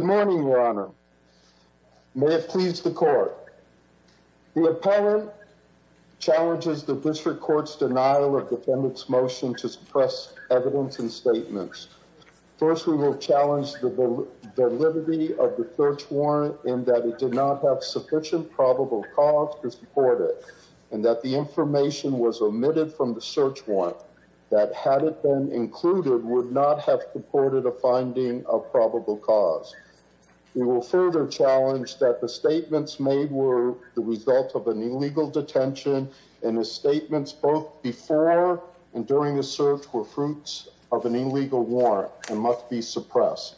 Good morning, Your Honor. May it please the court. The appellant challenges the district court's denial of defendant's motion to suppress evidence and statements. First, we will challenge the validity of the search warrant in that it did not have sufficient probable cause to support it and that the information was omitted from the search warrant that had it been included would not have supported a finding of probable cause. We will further challenge that the statements made were the result of an illegal detention and the statements both before and during the search were warrant and must be suppressed.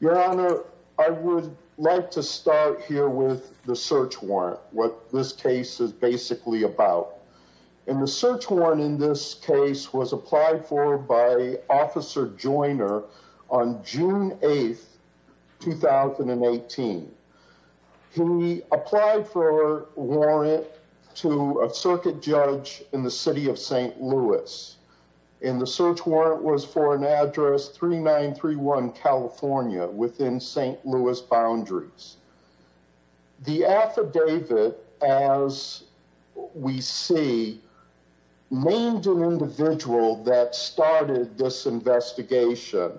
Your Honor, I would like to start here with the search warrant, what this case is basically about. And the search warrant in this case was applied for by Officer Joyner on June 8th, 2018. He applied for a warrant to a circuit judge in the city of St. Louis. And the search warrant was for an address 3931 California within St. Louis boundaries. The affidavit, as we see, named an individual that started this investigation,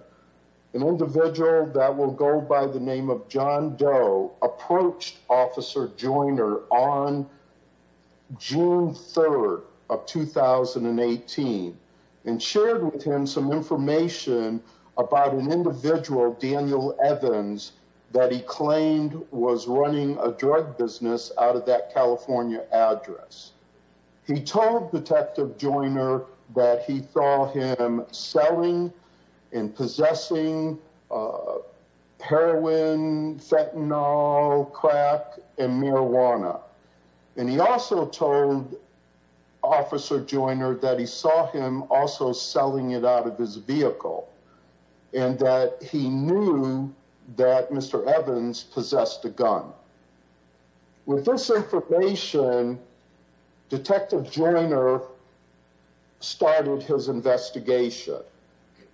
an individual that will go by the name of John Doe approached Officer Joyner on June 3rd of 2018 and shared with him some information about an individual, Daniel Evans, that he claimed was running a drug business out of that California address. He told Detective Joyner that he saw him selling and possessing heroin, fentanyl, crack, and marijuana. And he also told Officer Joyner that he saw him also selling it out of his vehicle and that he knew that Mr. Evans possessed a gun. With this information, Detective Joyner started his investigation.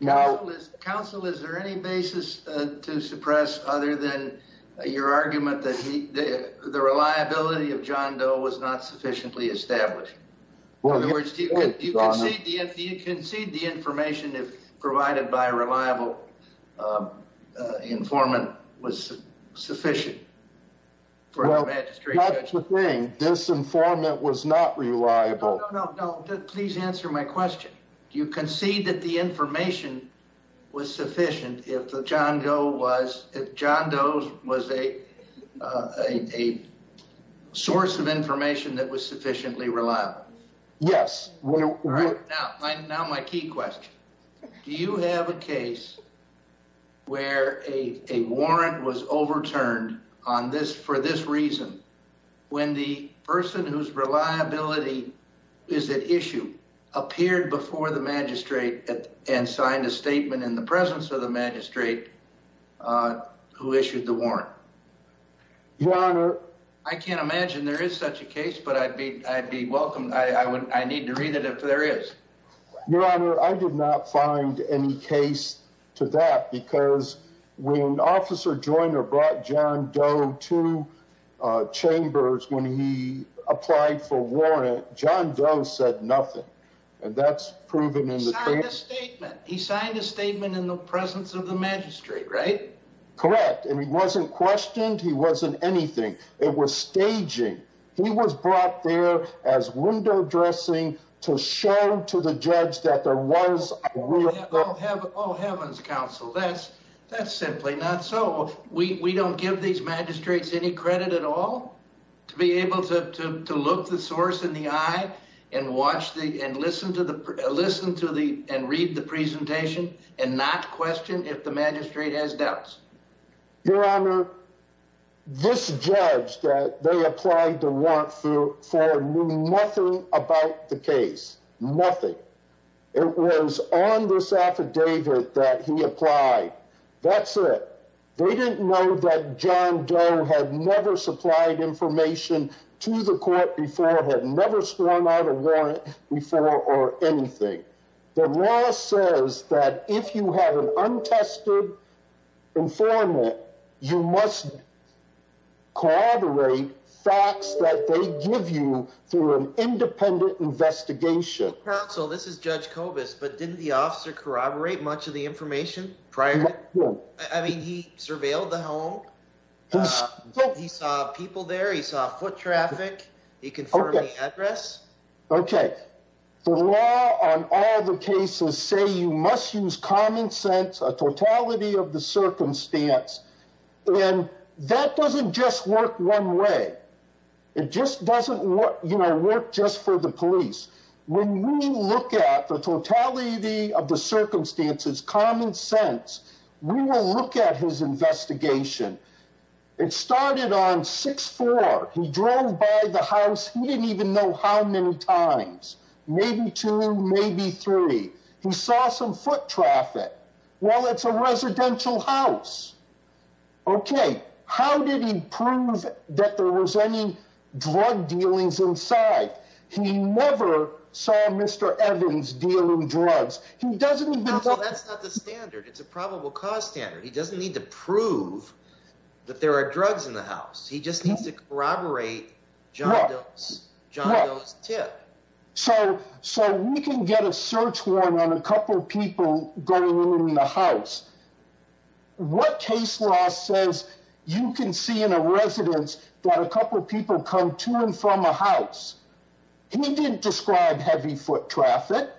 Counsel, is there any basis to suppress other than your argument that the reliability of John Doe was not sufficiently established? Well, in other words, do you concede the information provided by a reliable informant was sufficient? Well, that's the thing. This informant was not reliable. No, please answer my question. Do you concede that the information was sufficient if John Doe was a source of information that was sufficiently reliable? Yes. Now my key question. Do you have a case where a warrant was overturned for this reason, when the person whose reliability is at issue appeared before the magistrate and signed a statement in the presence of the magistrate who issued the warrant? Your Honor. I can't imagine there is such a case, but I'd be welcomed. I need to read it if there is. Your Honor, I did not find any case to that because when Officer Joyner brought John Doe to Chambers when he applied for warrant, John Doe said nothing, and that's proven in the case. He signed a statement. He signed a statement in the presence of the magistrate, right? Correct, and he wasn't questioned. He wasn't anything. It was staging. He was brought there as window dressing to show to the judge that there was a real... Oh heavens, counsel, that's simply not so. We don't give these magistrates any credit at all to be able to look the source in the eye and read the presentation and not question if the magistrate has doubts. Your Honor, this judge that they applied the it was on this affidavit that he applied. That's it. They didn't know that John Doe had never supplied information to the court before, had never sworn out a warrant before or anything. The law says that if you have an untested informant, you must corroborate facts that they but didn't the officer corroborate much of the information prior? I mean, he surveilled the home. He saw people there. He saw foot traffic. He confirmed the address. Okay, the law on all the cases say you must use common sense, a totality of the circumstance, and that doesn't work one way. It just doesn't work just for the police. When we look at the totality of the circumstances, common sense, we will look at his investigation. It started on 6-4. He drove by the house. He didn't even know how many times, maybe two, maybe three. He saw some foot traffic. Well, it's a residential house. Okay, how did he prove that there was any drug dealings inside? He never saw Mr. Evans dealing drugs. That's not the standard. It's a probable cause standard. He doesn't need to prove that there are drugs in the house. He just needs to corroborate John Doe's tip. So we can get a search warrant on a couple people going in the house. What case law says you can see in a residence that a couple people come to and from a house? He didn't describe heavy foot traffic,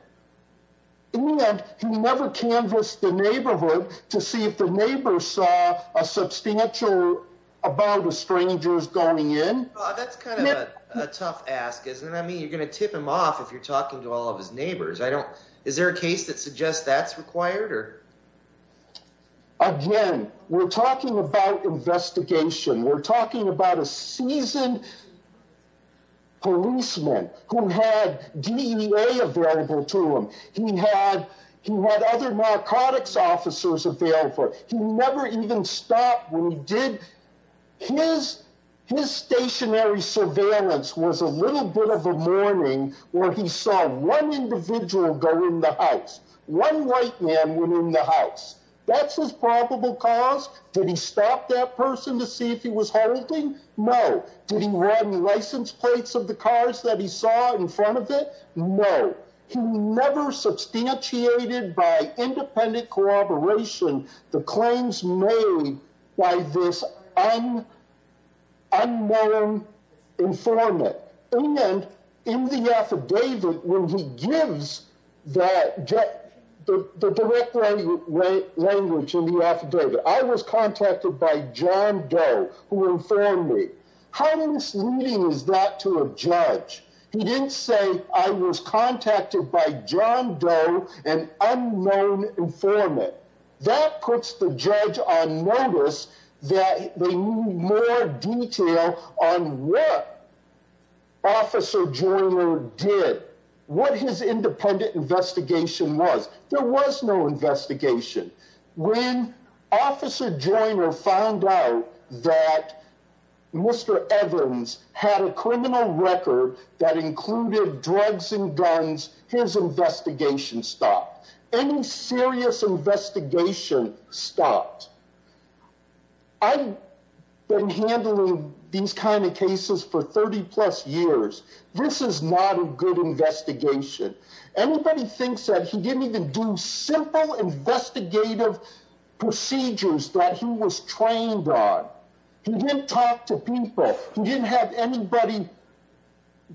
and he never canvassed the neighborhood to see if the a tough ask. You're going to tip him off if you're talking to all of his neighbors. Is there a case that suggests that's required? Again, we're talking about investigation. We're talking about a seasoned policeman who had DEA available to him. He had other narcotics officers available. He never even did. His stationary surveillance was a little bit of a morning where he saw one individual go in the house. One white man went in the house. That's his probable cause. Did he stop that person to see if he was holding? No. Did he run license plates of the cars that he saw in front of it? No. He never substantiated by independent corroboration the claims made by this unknown informant. In the affidavit, when he gives the direct language in the affidavit, I was contacted by John Doe, who informed me. How misleading is that to a judge? He didn't say I was contacted by John Doe, an unknown informant. That puts the judge on notice that they need more detail on what Officer Joyner did, what his independent investigation was. There was no investigation. When Officer Joyner found out that Mr. Evans had a criminal record that included drugs and guns, his investigation stopped. Any serious investigation stopped. I've been handling these kind of cases for 30 plus years. This is not a good investigation. Anybody thinks that he didn't even do simple investigative procedures that he was trained on. He didn't talk to people. He didn't have anybody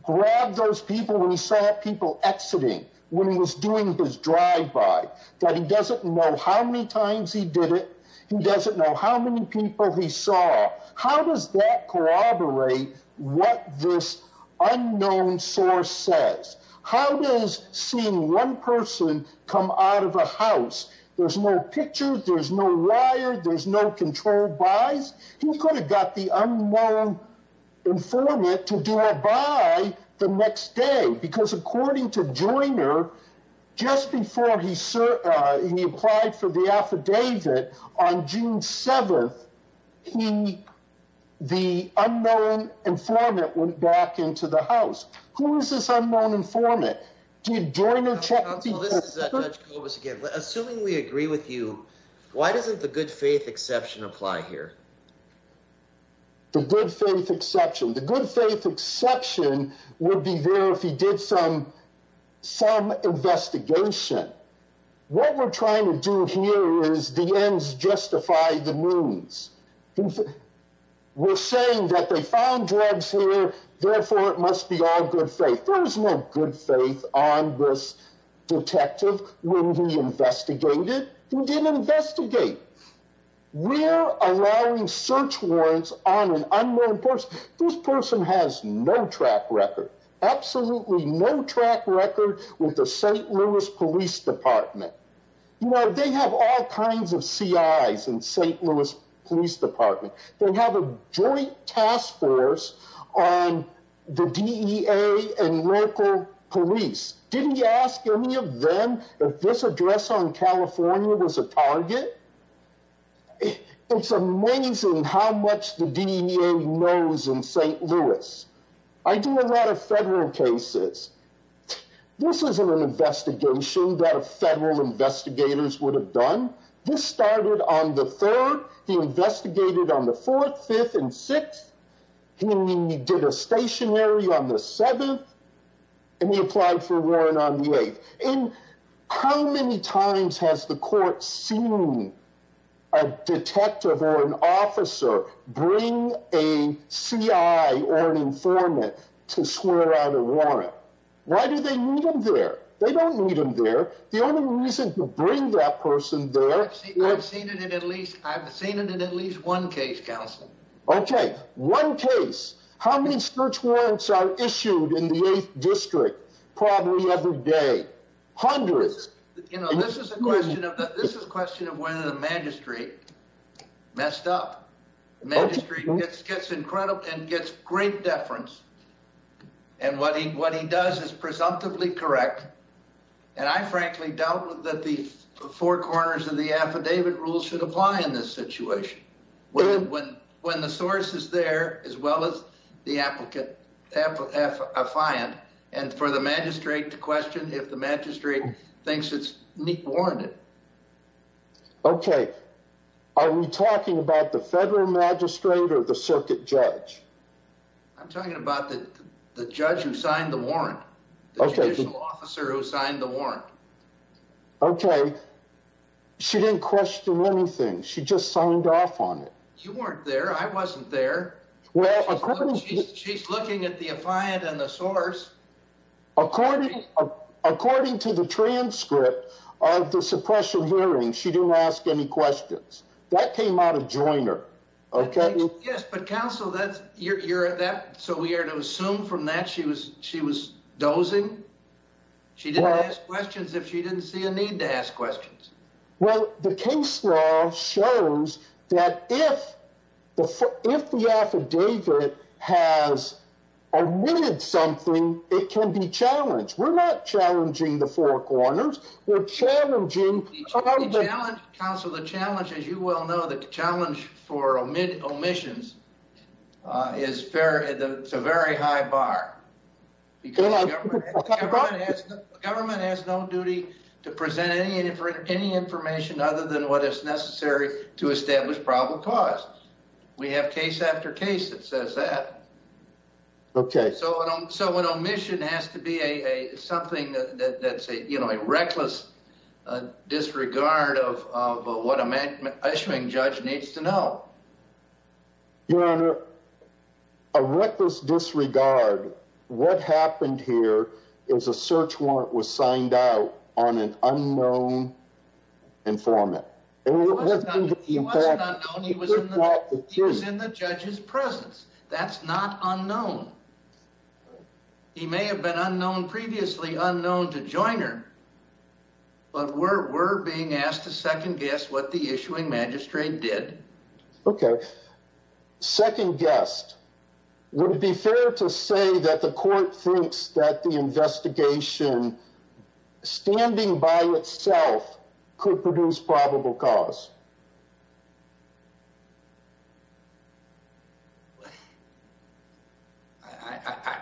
grab those people when he saw people exiting, when he was doing his drive-by. He doesn't know how many times he did it. He doesn't know how many people he saw. How does that corroborate what this unknown source says? How does seeing one person come out of a house, there's no picture, there's no wire, there's no controlled buys. He could have got the unknown informant to do a buy the next day. Because according to Joyner, just before he applied for the affidavit on June 7th, the unknown informant went back into the house. Who is this unknown informant? Assuming we agree with you, why doesn't the good faith exception apply here? The good faith exception. The good faith exception would be there if he did some investigation. What we're trying to do here is the ends justify the means. We're saying that they found drugs here, therefore it must be all good faith. There's no good faith on this detective when he investigated. He didn't investigate. We're allowing search warrants on an track record with the St. Louis police department. They have all kinds of CIs in St. Louis police department. They have a joint task force on the DEA and local police. Didn't you ask any of them if this address on California was a target? It's amazing how much the DEA knows in St. Louis. I do a lot of federal cases. This isn't an investigation that a federal investigators would have done. This started on the 3rd. He investigated on the 4th, 5th, and 6th. He did a stationary on the 7th, and he applied for a warrant on the 8th. How many times has the informant to swear on a warrant? Why do they need him there? They don't need him there. The only reason to bring that person there... I've seen it in at least one case, counsel. Okay, one case. How many search warrants are issued in the 8th district? Probably every day. Hundreds. This is a question of whether the magistrate messed up. The magistrate gets and gets great deference, and what he does is presumptively correct, and I frankly doubt that the four corners of the affidavit rules should apply in this situation. When the source is there as well as the applicant, and for the magistrate to question if the magistrate thinks it's warranted. Okay, are we talking about the federal magistrate or the circuit judge? I'm talking about the judge who signed the warrant. The judicial officer who signed the warrant. Okay, she didn't question anything. She just signed off on it. You weren't there. I wasn't there. She's looking at the affiant and the source. According to the transcript of the suppression hearing, she didn't ask any questions. That came out of Joyner, okay? Yes, but counsel, so we are to assume from that she was dozing? She didn't ask questions if she didn't see a need to ask questions. Well, the case law shows that if the affidavit has omitted something, it can be challenged. We're not challenging the four corners. We're challenging... Counsel, the challenge, as you well know, the challenge for omissions is a very high bar. Because the government has no duty to present any information other than what is necessary to establish probable cause. We have case after case that says that. Okay. So an omission has to be something that's a reckless disregard of what a issuing judge needs to know. Your Honor, a reckless disregard, what happened here is a search warrant was signed out on an unknown informant. He wasn't unknown. He was in the judge's presence. That's not unknown. He may have been unknown previously, unknown to Joyner, but we're being asked to second guess what the issuing magistrate did. Okay. Second guessed. Would it be fair to say that the court thinks that the investigation, standing by itself, could produce probable cause?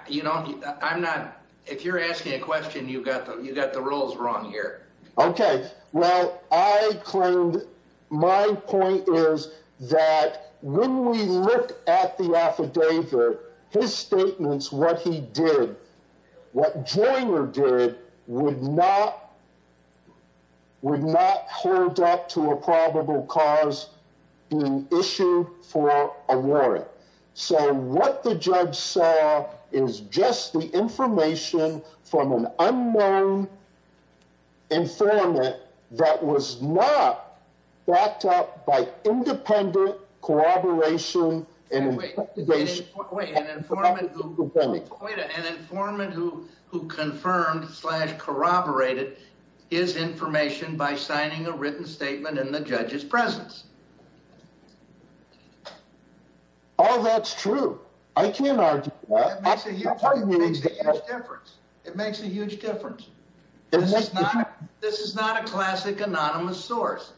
You know, I'm not... If you're asking a question, you got the rules wrong here. Okay. Well, I claimed... My point is that when we look at the affidavit, his statements, what he did, what Joyner did, would not hold up to a probable cause being issued for a warrant. So what the judge saw is just the information from an unknown informant that was not backed up by independent corroboration and investigation. Wait, wait. An informant who confirmed slash corroborated his information by signing a written statement in the judge's presence. Oh, that's true. I can't argue with that. It makes a huge difference. It makes a huge difference. This is not a classic anonymous source.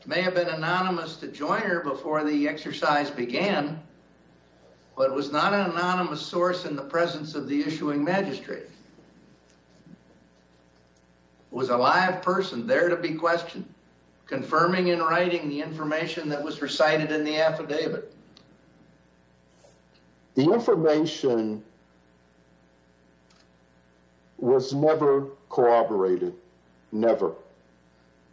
It may have been anonymous to Joyner before the exercise began, but it was not an anonymous source in the presence of the issuing magistrate. It was a live person there to be questioned, confirming and writing the information that was recited in the affidavit. The information was never corroborated. Never.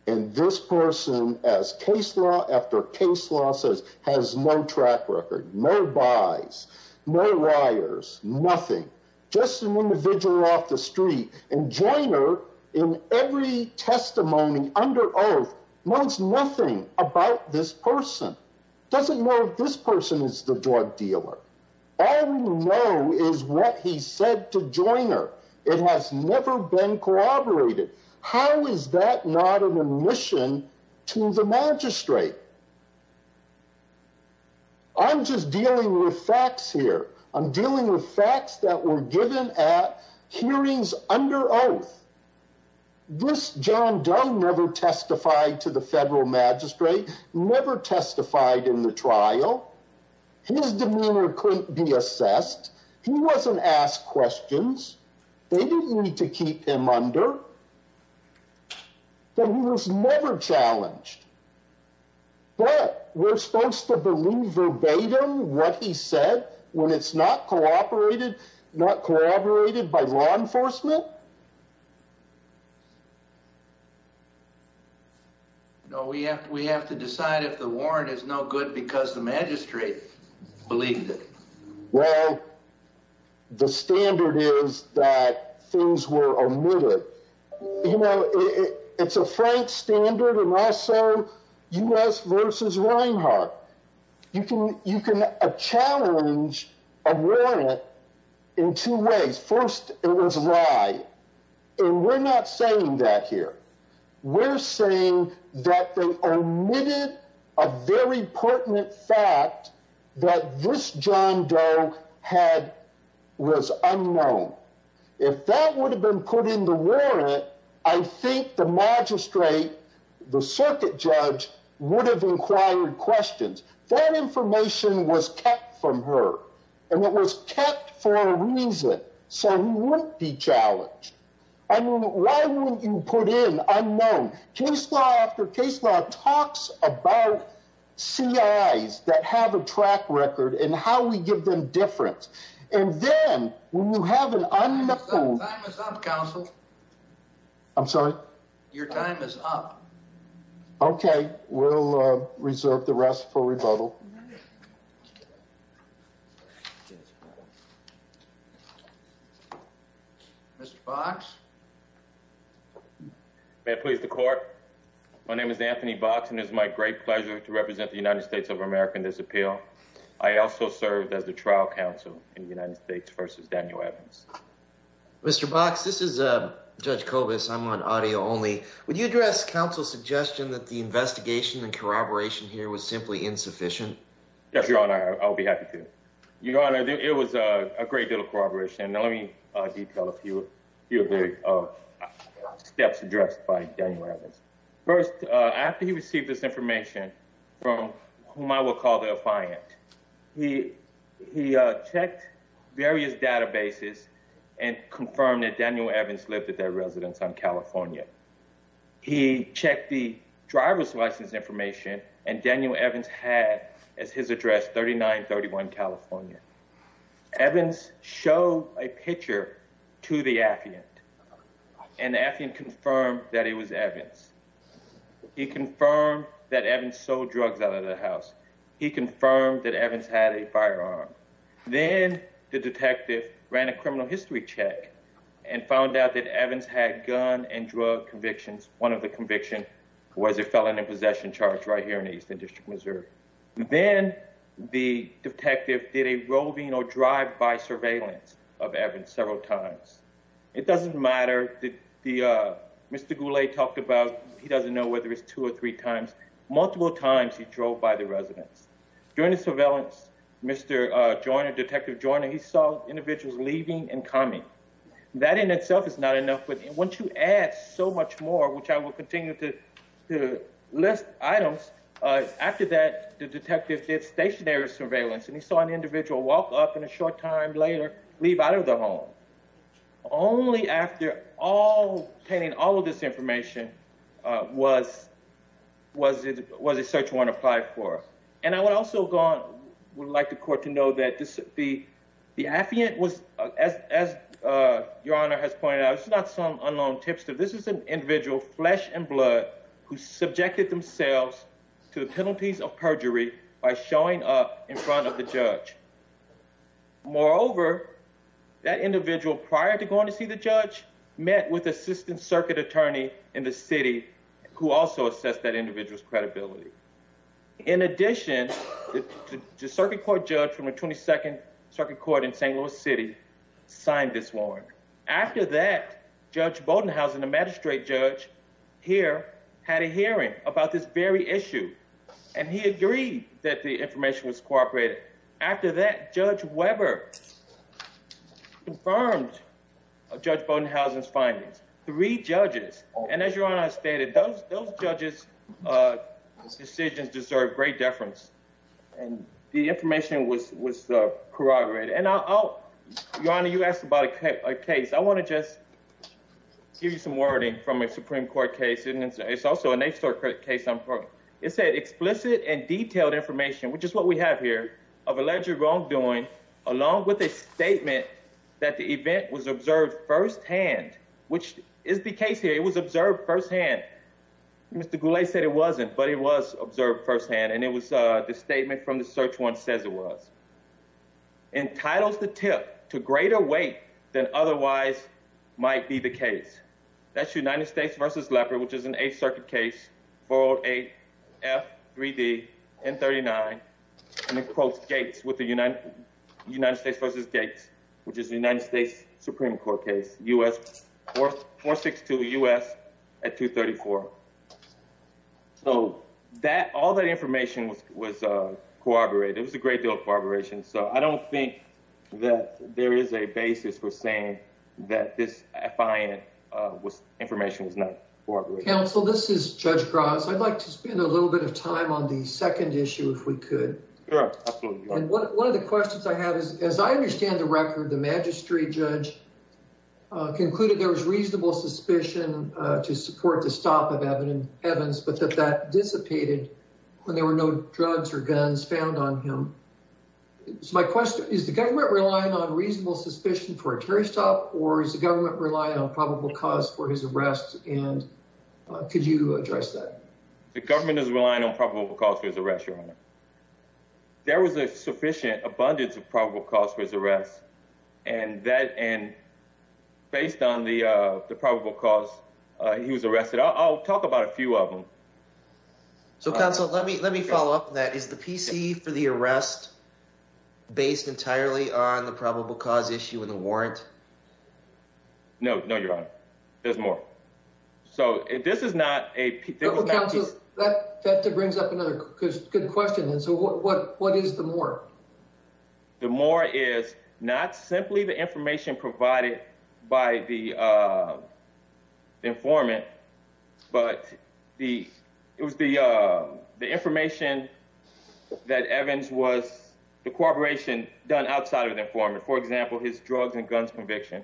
And this person, as case law after case law says, has no track record, no buys, no wires, nothing. Just an individual off the street. And Joyner, in every testimony under oath, knows nothing about this person. Doesn't know this person. This person is the drug dealer. All we know is what he said to Joyner. It has never been corroborated. How is that not an omission to the magistrate? I'm just dealing with facts here. I'm dealing with facts that were given at hearings under oath. This John Doe never testified to the his demeanor couldn't be assessed. He wasn't asked questions. They didn't need to keep him under. But he was never challenged. But we're supposed to believe verbatim what he said when it's not corroborated, not corroborated by law enforcement? No, we have to decide if the warrant is no good because the magistrate believed it. Well, the standard is that things were omitted. You know, it's a frank standard and also U.S. versus Reinhart. You can challenge a warrant in two ways. First, it was a lie. And we're not saying that here. We're saying that they omitted a very pertinent fact that this John Doe had was unknown. If that would have been put in the warrant, I think the magistrate, the circuit judge, would have inquired questions. That information was kept from her. And it was kept for a reason. So he wouldn't be challenged. I mean, why wouldn't you put in unknown? Case law after case law talks about C.I.s that have a track record and how we give them difference. And then when you have an unknown. Your time is up. Okay, we'll reserve the rest for rebuttal. Mr. Box. May it please the court. My name is Anthony Box and it is my great honor to serve as the trial counsel in the United States versus Daniel Evans. Mr. Box, this is Judge Kobus. I'm on audio only. Would you address counsel's suggestion that the investigation and corroboration here was simply insufficient? Yes, your honor. I'll be happy to. Your honor, it was a great deal of corroboration. Let me detail a few of the steps addressed by Daniel Evans. First, after he received this information from whom I will call the client, he checked various databases and confirmed that Daniel Evans lived at their residence on California. He checked the driver's license information and Daniel Evans had as his address 3931 California. Evans showed a affidavit. And the affidavit confirmed that it was Evans. He confirmed that Evans sold drugs out of the house. He confirmed that Evans had a firearm. Then the detective ran a criminal history check and found out that Evans had gun and drug convictions. One of the convictions was a felon in possession charge right here in the Eastern District Reserve. Then the detective did a roving drive by surveillance of Evans several times. It doesn't matter. Mr. Goulet talked about he doesn't know whether it's two or three times. Multiple times he drove by the residence. During the surveillance, Mr. Joyner, Detective Joyner, he saw individuals leaving and coming. That in itself is not enough. But once you add so much more, which I will continue to list items, after that, the detectives were able to find out that Evans did not show up in a short time later, leave out of the home. Only after obtaining all of this information was a search warrant applied for. And I would also like the court to know that the affiant was, as Your Honor has pointed out, this is not some unknown tipster. This is an individual, flesh and blood, who subjected themselves to the penalties of perjury by showing up in front of the judge. Moreover, that individual, prior to going to see the judge, met with an assistant circuit attorney in the city who also assessed that individual's credibility. In addition, the circuit court judge from the 22nd Circuit Court in St. Louis City signed this warrant. After that, Judge Bodenhausen, the magistrate judge here, had a hearing about this very issue. And he agreed that the information was corroborated. After that, Judge Weber confirmed Judge Bodenhausen's findings. Three judges, and as Your Honor has stated, those judges' decisions deserve great deference. And the information was corroborated. And Your Honor, you asked about a case. I want to just give you some wording from a Supreme Court case. It's also a national court case. It said explicit and detailed information, which is what we have here, of alleged wrongdoing along with a statement that the event was observed firsthand, which is the case here. It was observed firsthand. Mr. Goulet said it wasn't, but it was observed firsthand. And it was the statement from the search warrant says it was. Entitles the tip to greater weight than otherwise might be the case. That's United States v. Lepper, which is an Eighth Circuit case, 408F3DN39. And it quotes Gates with the United States v. Gates, which is the United States Supreme Court case, 462 U.S. at 234. So all that information was corroborated. It was a great deal I don't think that there is a basis for saying that this information was not corroborated. Counsel, this is Judge Gross. I'd like to spend a little bit of time on the second issue if we could. One of the questions I have is, as I understand the record, the magistrate judge concluded there was reasonable suspicion to support the stop of Evans, but that that is my question. Is the government relying on reasonable suspicion for a terrorist stop, or is the government relying on probable cause for his arrest? And could you address that? The government is relying on probable cause for his arrest, Your Honor. There was a sufficient abundance of probable cause for his arrest. And based on the probable cause, he was arrested. I'll talk about a few of them. So, Counsel, let me let me follow up on that. Is the PC for the arrest based entirely on the probable cause issue in the warrant? No, no, Your Honor. There's more. So this is not a... Well, Counsel, that brings up another good question. And so what is the more? The more is not simply the information provided by the informant, but it was the information that Evans was... the corroboration done outside of the informant. For example, his drugs and guns conviction.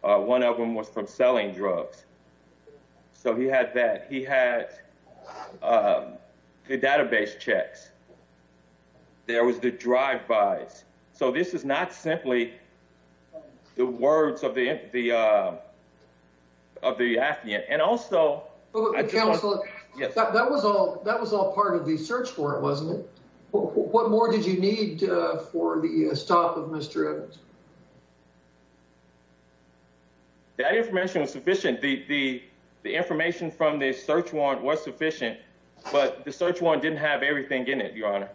One of them was from selling drugs. So he had that. He had the database checks. There was the drive-bys. So this is not simply the words of the affidavit. And also... Counsel, that was all part of the search warrant, wasn't it? What more did you need for the stop of Mr. Evans? That information was sufficient. The information from the search warrant was sufficient, but the search warrant didn't have everything in it, Your Honor.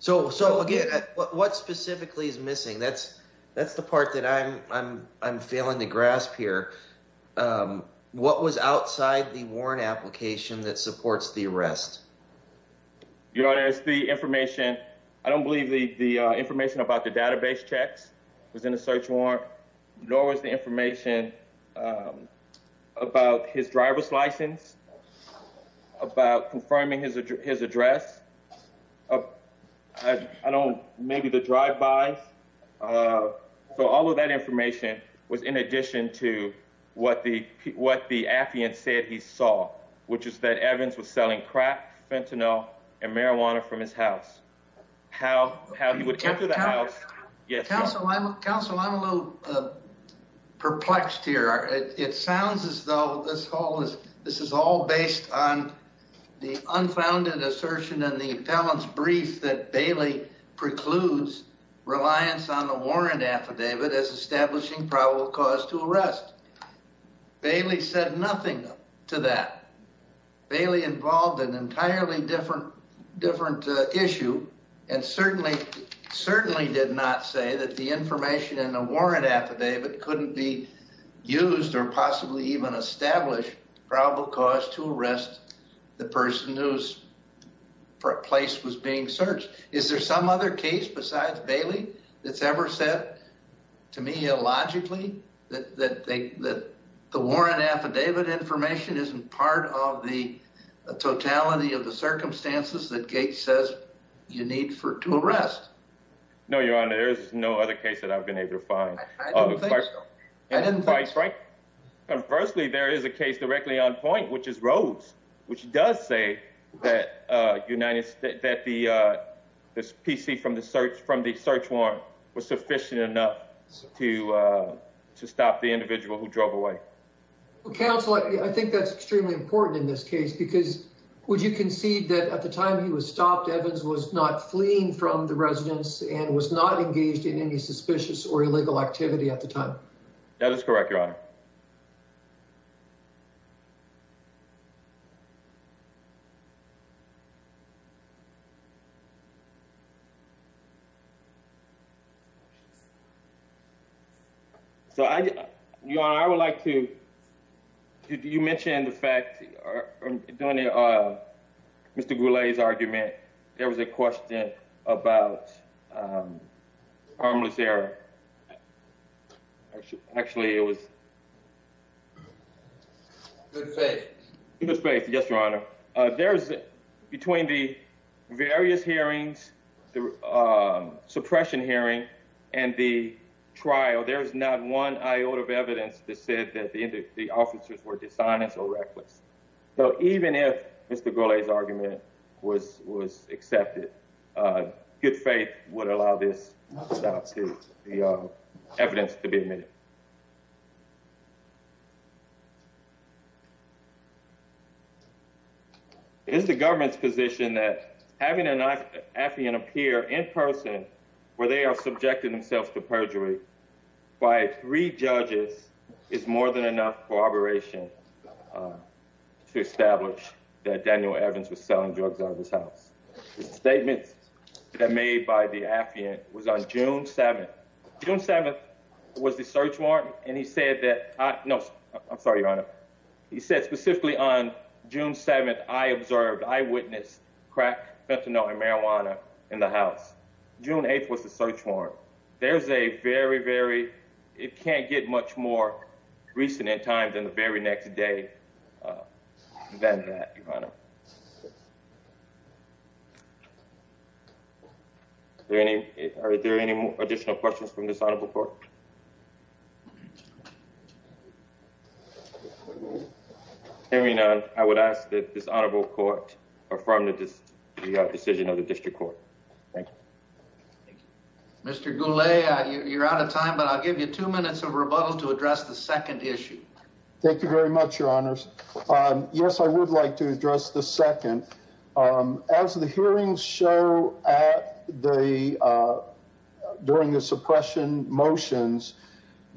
So, again, what specifically is missing? That's the part that I'm failing to grasp here. What was outside the warrant application that supports the arrest? Your Honor, it's the information. I don't believe the information about the database checks was in the search warrant, nor was the information about his driver's license, about confirming his address, maybe the drive-bys. So all of that information was in addition to what the affidavit said he saw, which is that Evans was selling crack, fentanyl, and marijuana from his house. How he would enter the house... Counsel, I'm a little perplexed here. It sounds as though this is all based on the unfounded assertion in the appellant's brief that Bailey precludes reliance on the warrant affidavit as establishing probable cause to arrest. Bailey said nothing to that. Bailey involved an entirely different issue, and certainly did not say that the information in the warrant affidavit couldn't be used or possibly even establish probable cause to arrest the person whose place was being searched. Is there some other case besides Bailey that's ever said, to me, illogically, that the warrant affidavit information isn't part of the totality of the circumstances that Gates says you need to arrest? No, Your Honor, there is no other case that I've been able to find. I didn't think so. And conversely, there is a case directly on point, which is Rhodes, which does say that this PC from the search warrant was sufficient enough to stop the individual who drove away. Counsel, I think that's extremely important in this case, because would you concede that at the time he was stopped, Evans was not fleeing from the residence and was not engaged in any suspicious or illegal activity at the time? That is correct, Your Honor. So, Your Honor, I would like to, you mentioned the fact, Mr. Goulet's argument. There was a question about harmless error. Actually, it was... Good faith. There's, between the various hearings, the suppression hearing and the trial, there's not one iota of evidence that said that the officers were dishonest or reckless. So even if Mr. Goulet's argument was accepted, good faith would allow this evidence to be admitted. It is the government's position that having an affiant appear in person where they are subjected themselves to perjury by three judges is more than enough corroboration to establish that Daniel Evans was selling drugs out of his house. The statement that made by the affiant was on June 7th. June 7th was the search warrant. And he said that, no, I'm sorry, Your Honor. He said specifically on June 7th, I observed, I witnessed crack, fentanyl, and marijuana in the house. June 8th was the search warrant. There's a very, very... It can't get much more recent in time than the very next day than that, Your Honor. Are there any additional questions from this honorable court? Hearing none, I would ask that this honorable court affirm the decision of the district court. Mr. Goulet, you're out of time, but I'll give you two minutes of rebuttal to address the second issue. Thank you very much, Your Honors. Yes, I would like to address the second. As the hearings show during the suppression motions,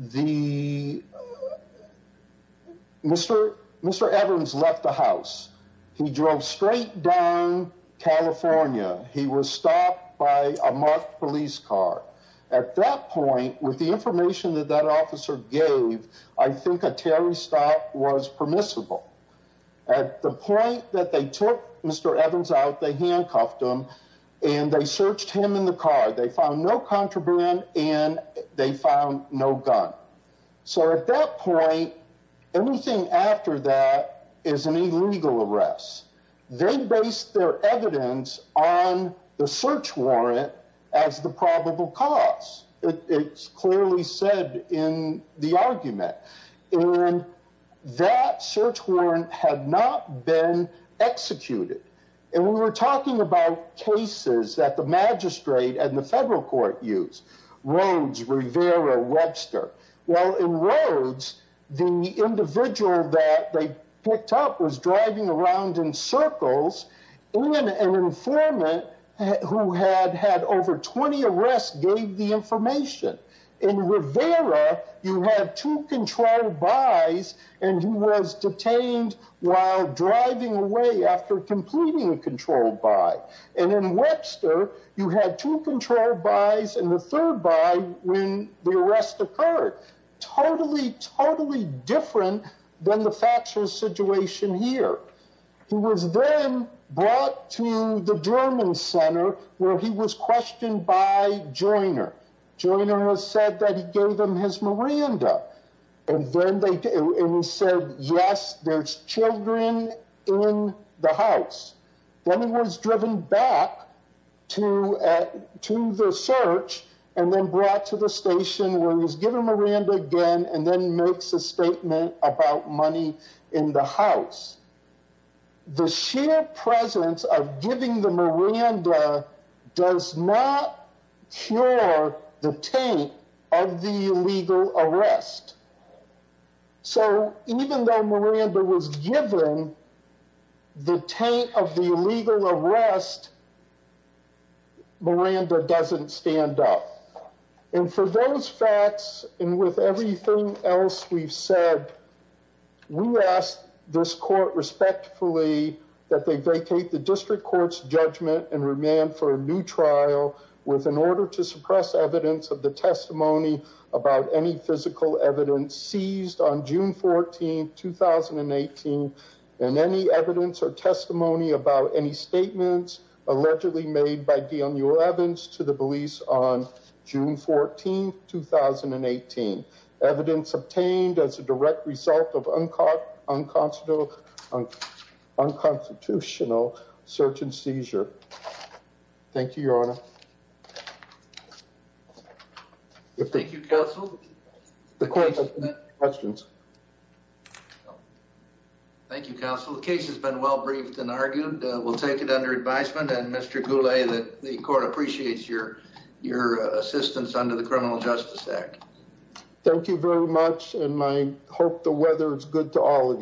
Mr. Evans left the house. He drove straight down California. He was stopped by a marked police car. At that point, with the information that that officer gave, I think a Terry stop was permissible. At the point that they took Mr. Evans out, they handcuffed him, and they searched him in the car. They found no contraband, and they found no gun. So at that point, everything after that is an illegal arrest. They based their evidence on the search warrant as the probable cause. It's clearly said in the argument. And that search warrant had not been executed. And we were talking about cases that the magistrate and the federal court used, Rhodes, Rivera, Webster. Well, in Rhodes, the individual that they picked up was driving around in circles, and an informant who had had over 20 arrests gave the information. In Rivera, you had two control buys, and he was detained while driving away after completing a control buy. And in Webster, you had two control buys and the third buy when the arrest occurred. Totally, totally different than the Thatcher situation here. He was then brought to the German center where he was questioned by Joyner. Joyner said that he gave him his Miranda. And he said, yes, there's children in the house. Then he was driven back to the search and then brought to the station where he was given Miranda again and then makes a statement about money in the house. The sheer presence of giving the Miranda does not cure the taint of the illegal arrest. So even though Miranda was given the taint of the illegal arrest, Miranda doesn't stand up. And for those facts and with everything else we've said, we asked this court respectfully that they vacate the district court's judgment and remand for a new trial with an order to suppress evidence of the testimony about any physical evidence seized on June 14th, 2018, and any evidence or testimony about any statements allegedly made by Daniel Evans to the police on June 14th, 2018. Evidence obtained as a direct result of unconstitutional search and seizure. Thank you, Your Honor. Thank you, Counsel. Thank you, Counsel. The case has been well briefed and argued. We'll take it under advisement. And Mr. Goulet, the court appreciates your assistance under the Criminal Justice Act. Thank you very much, and I hope the weather is good to all of you.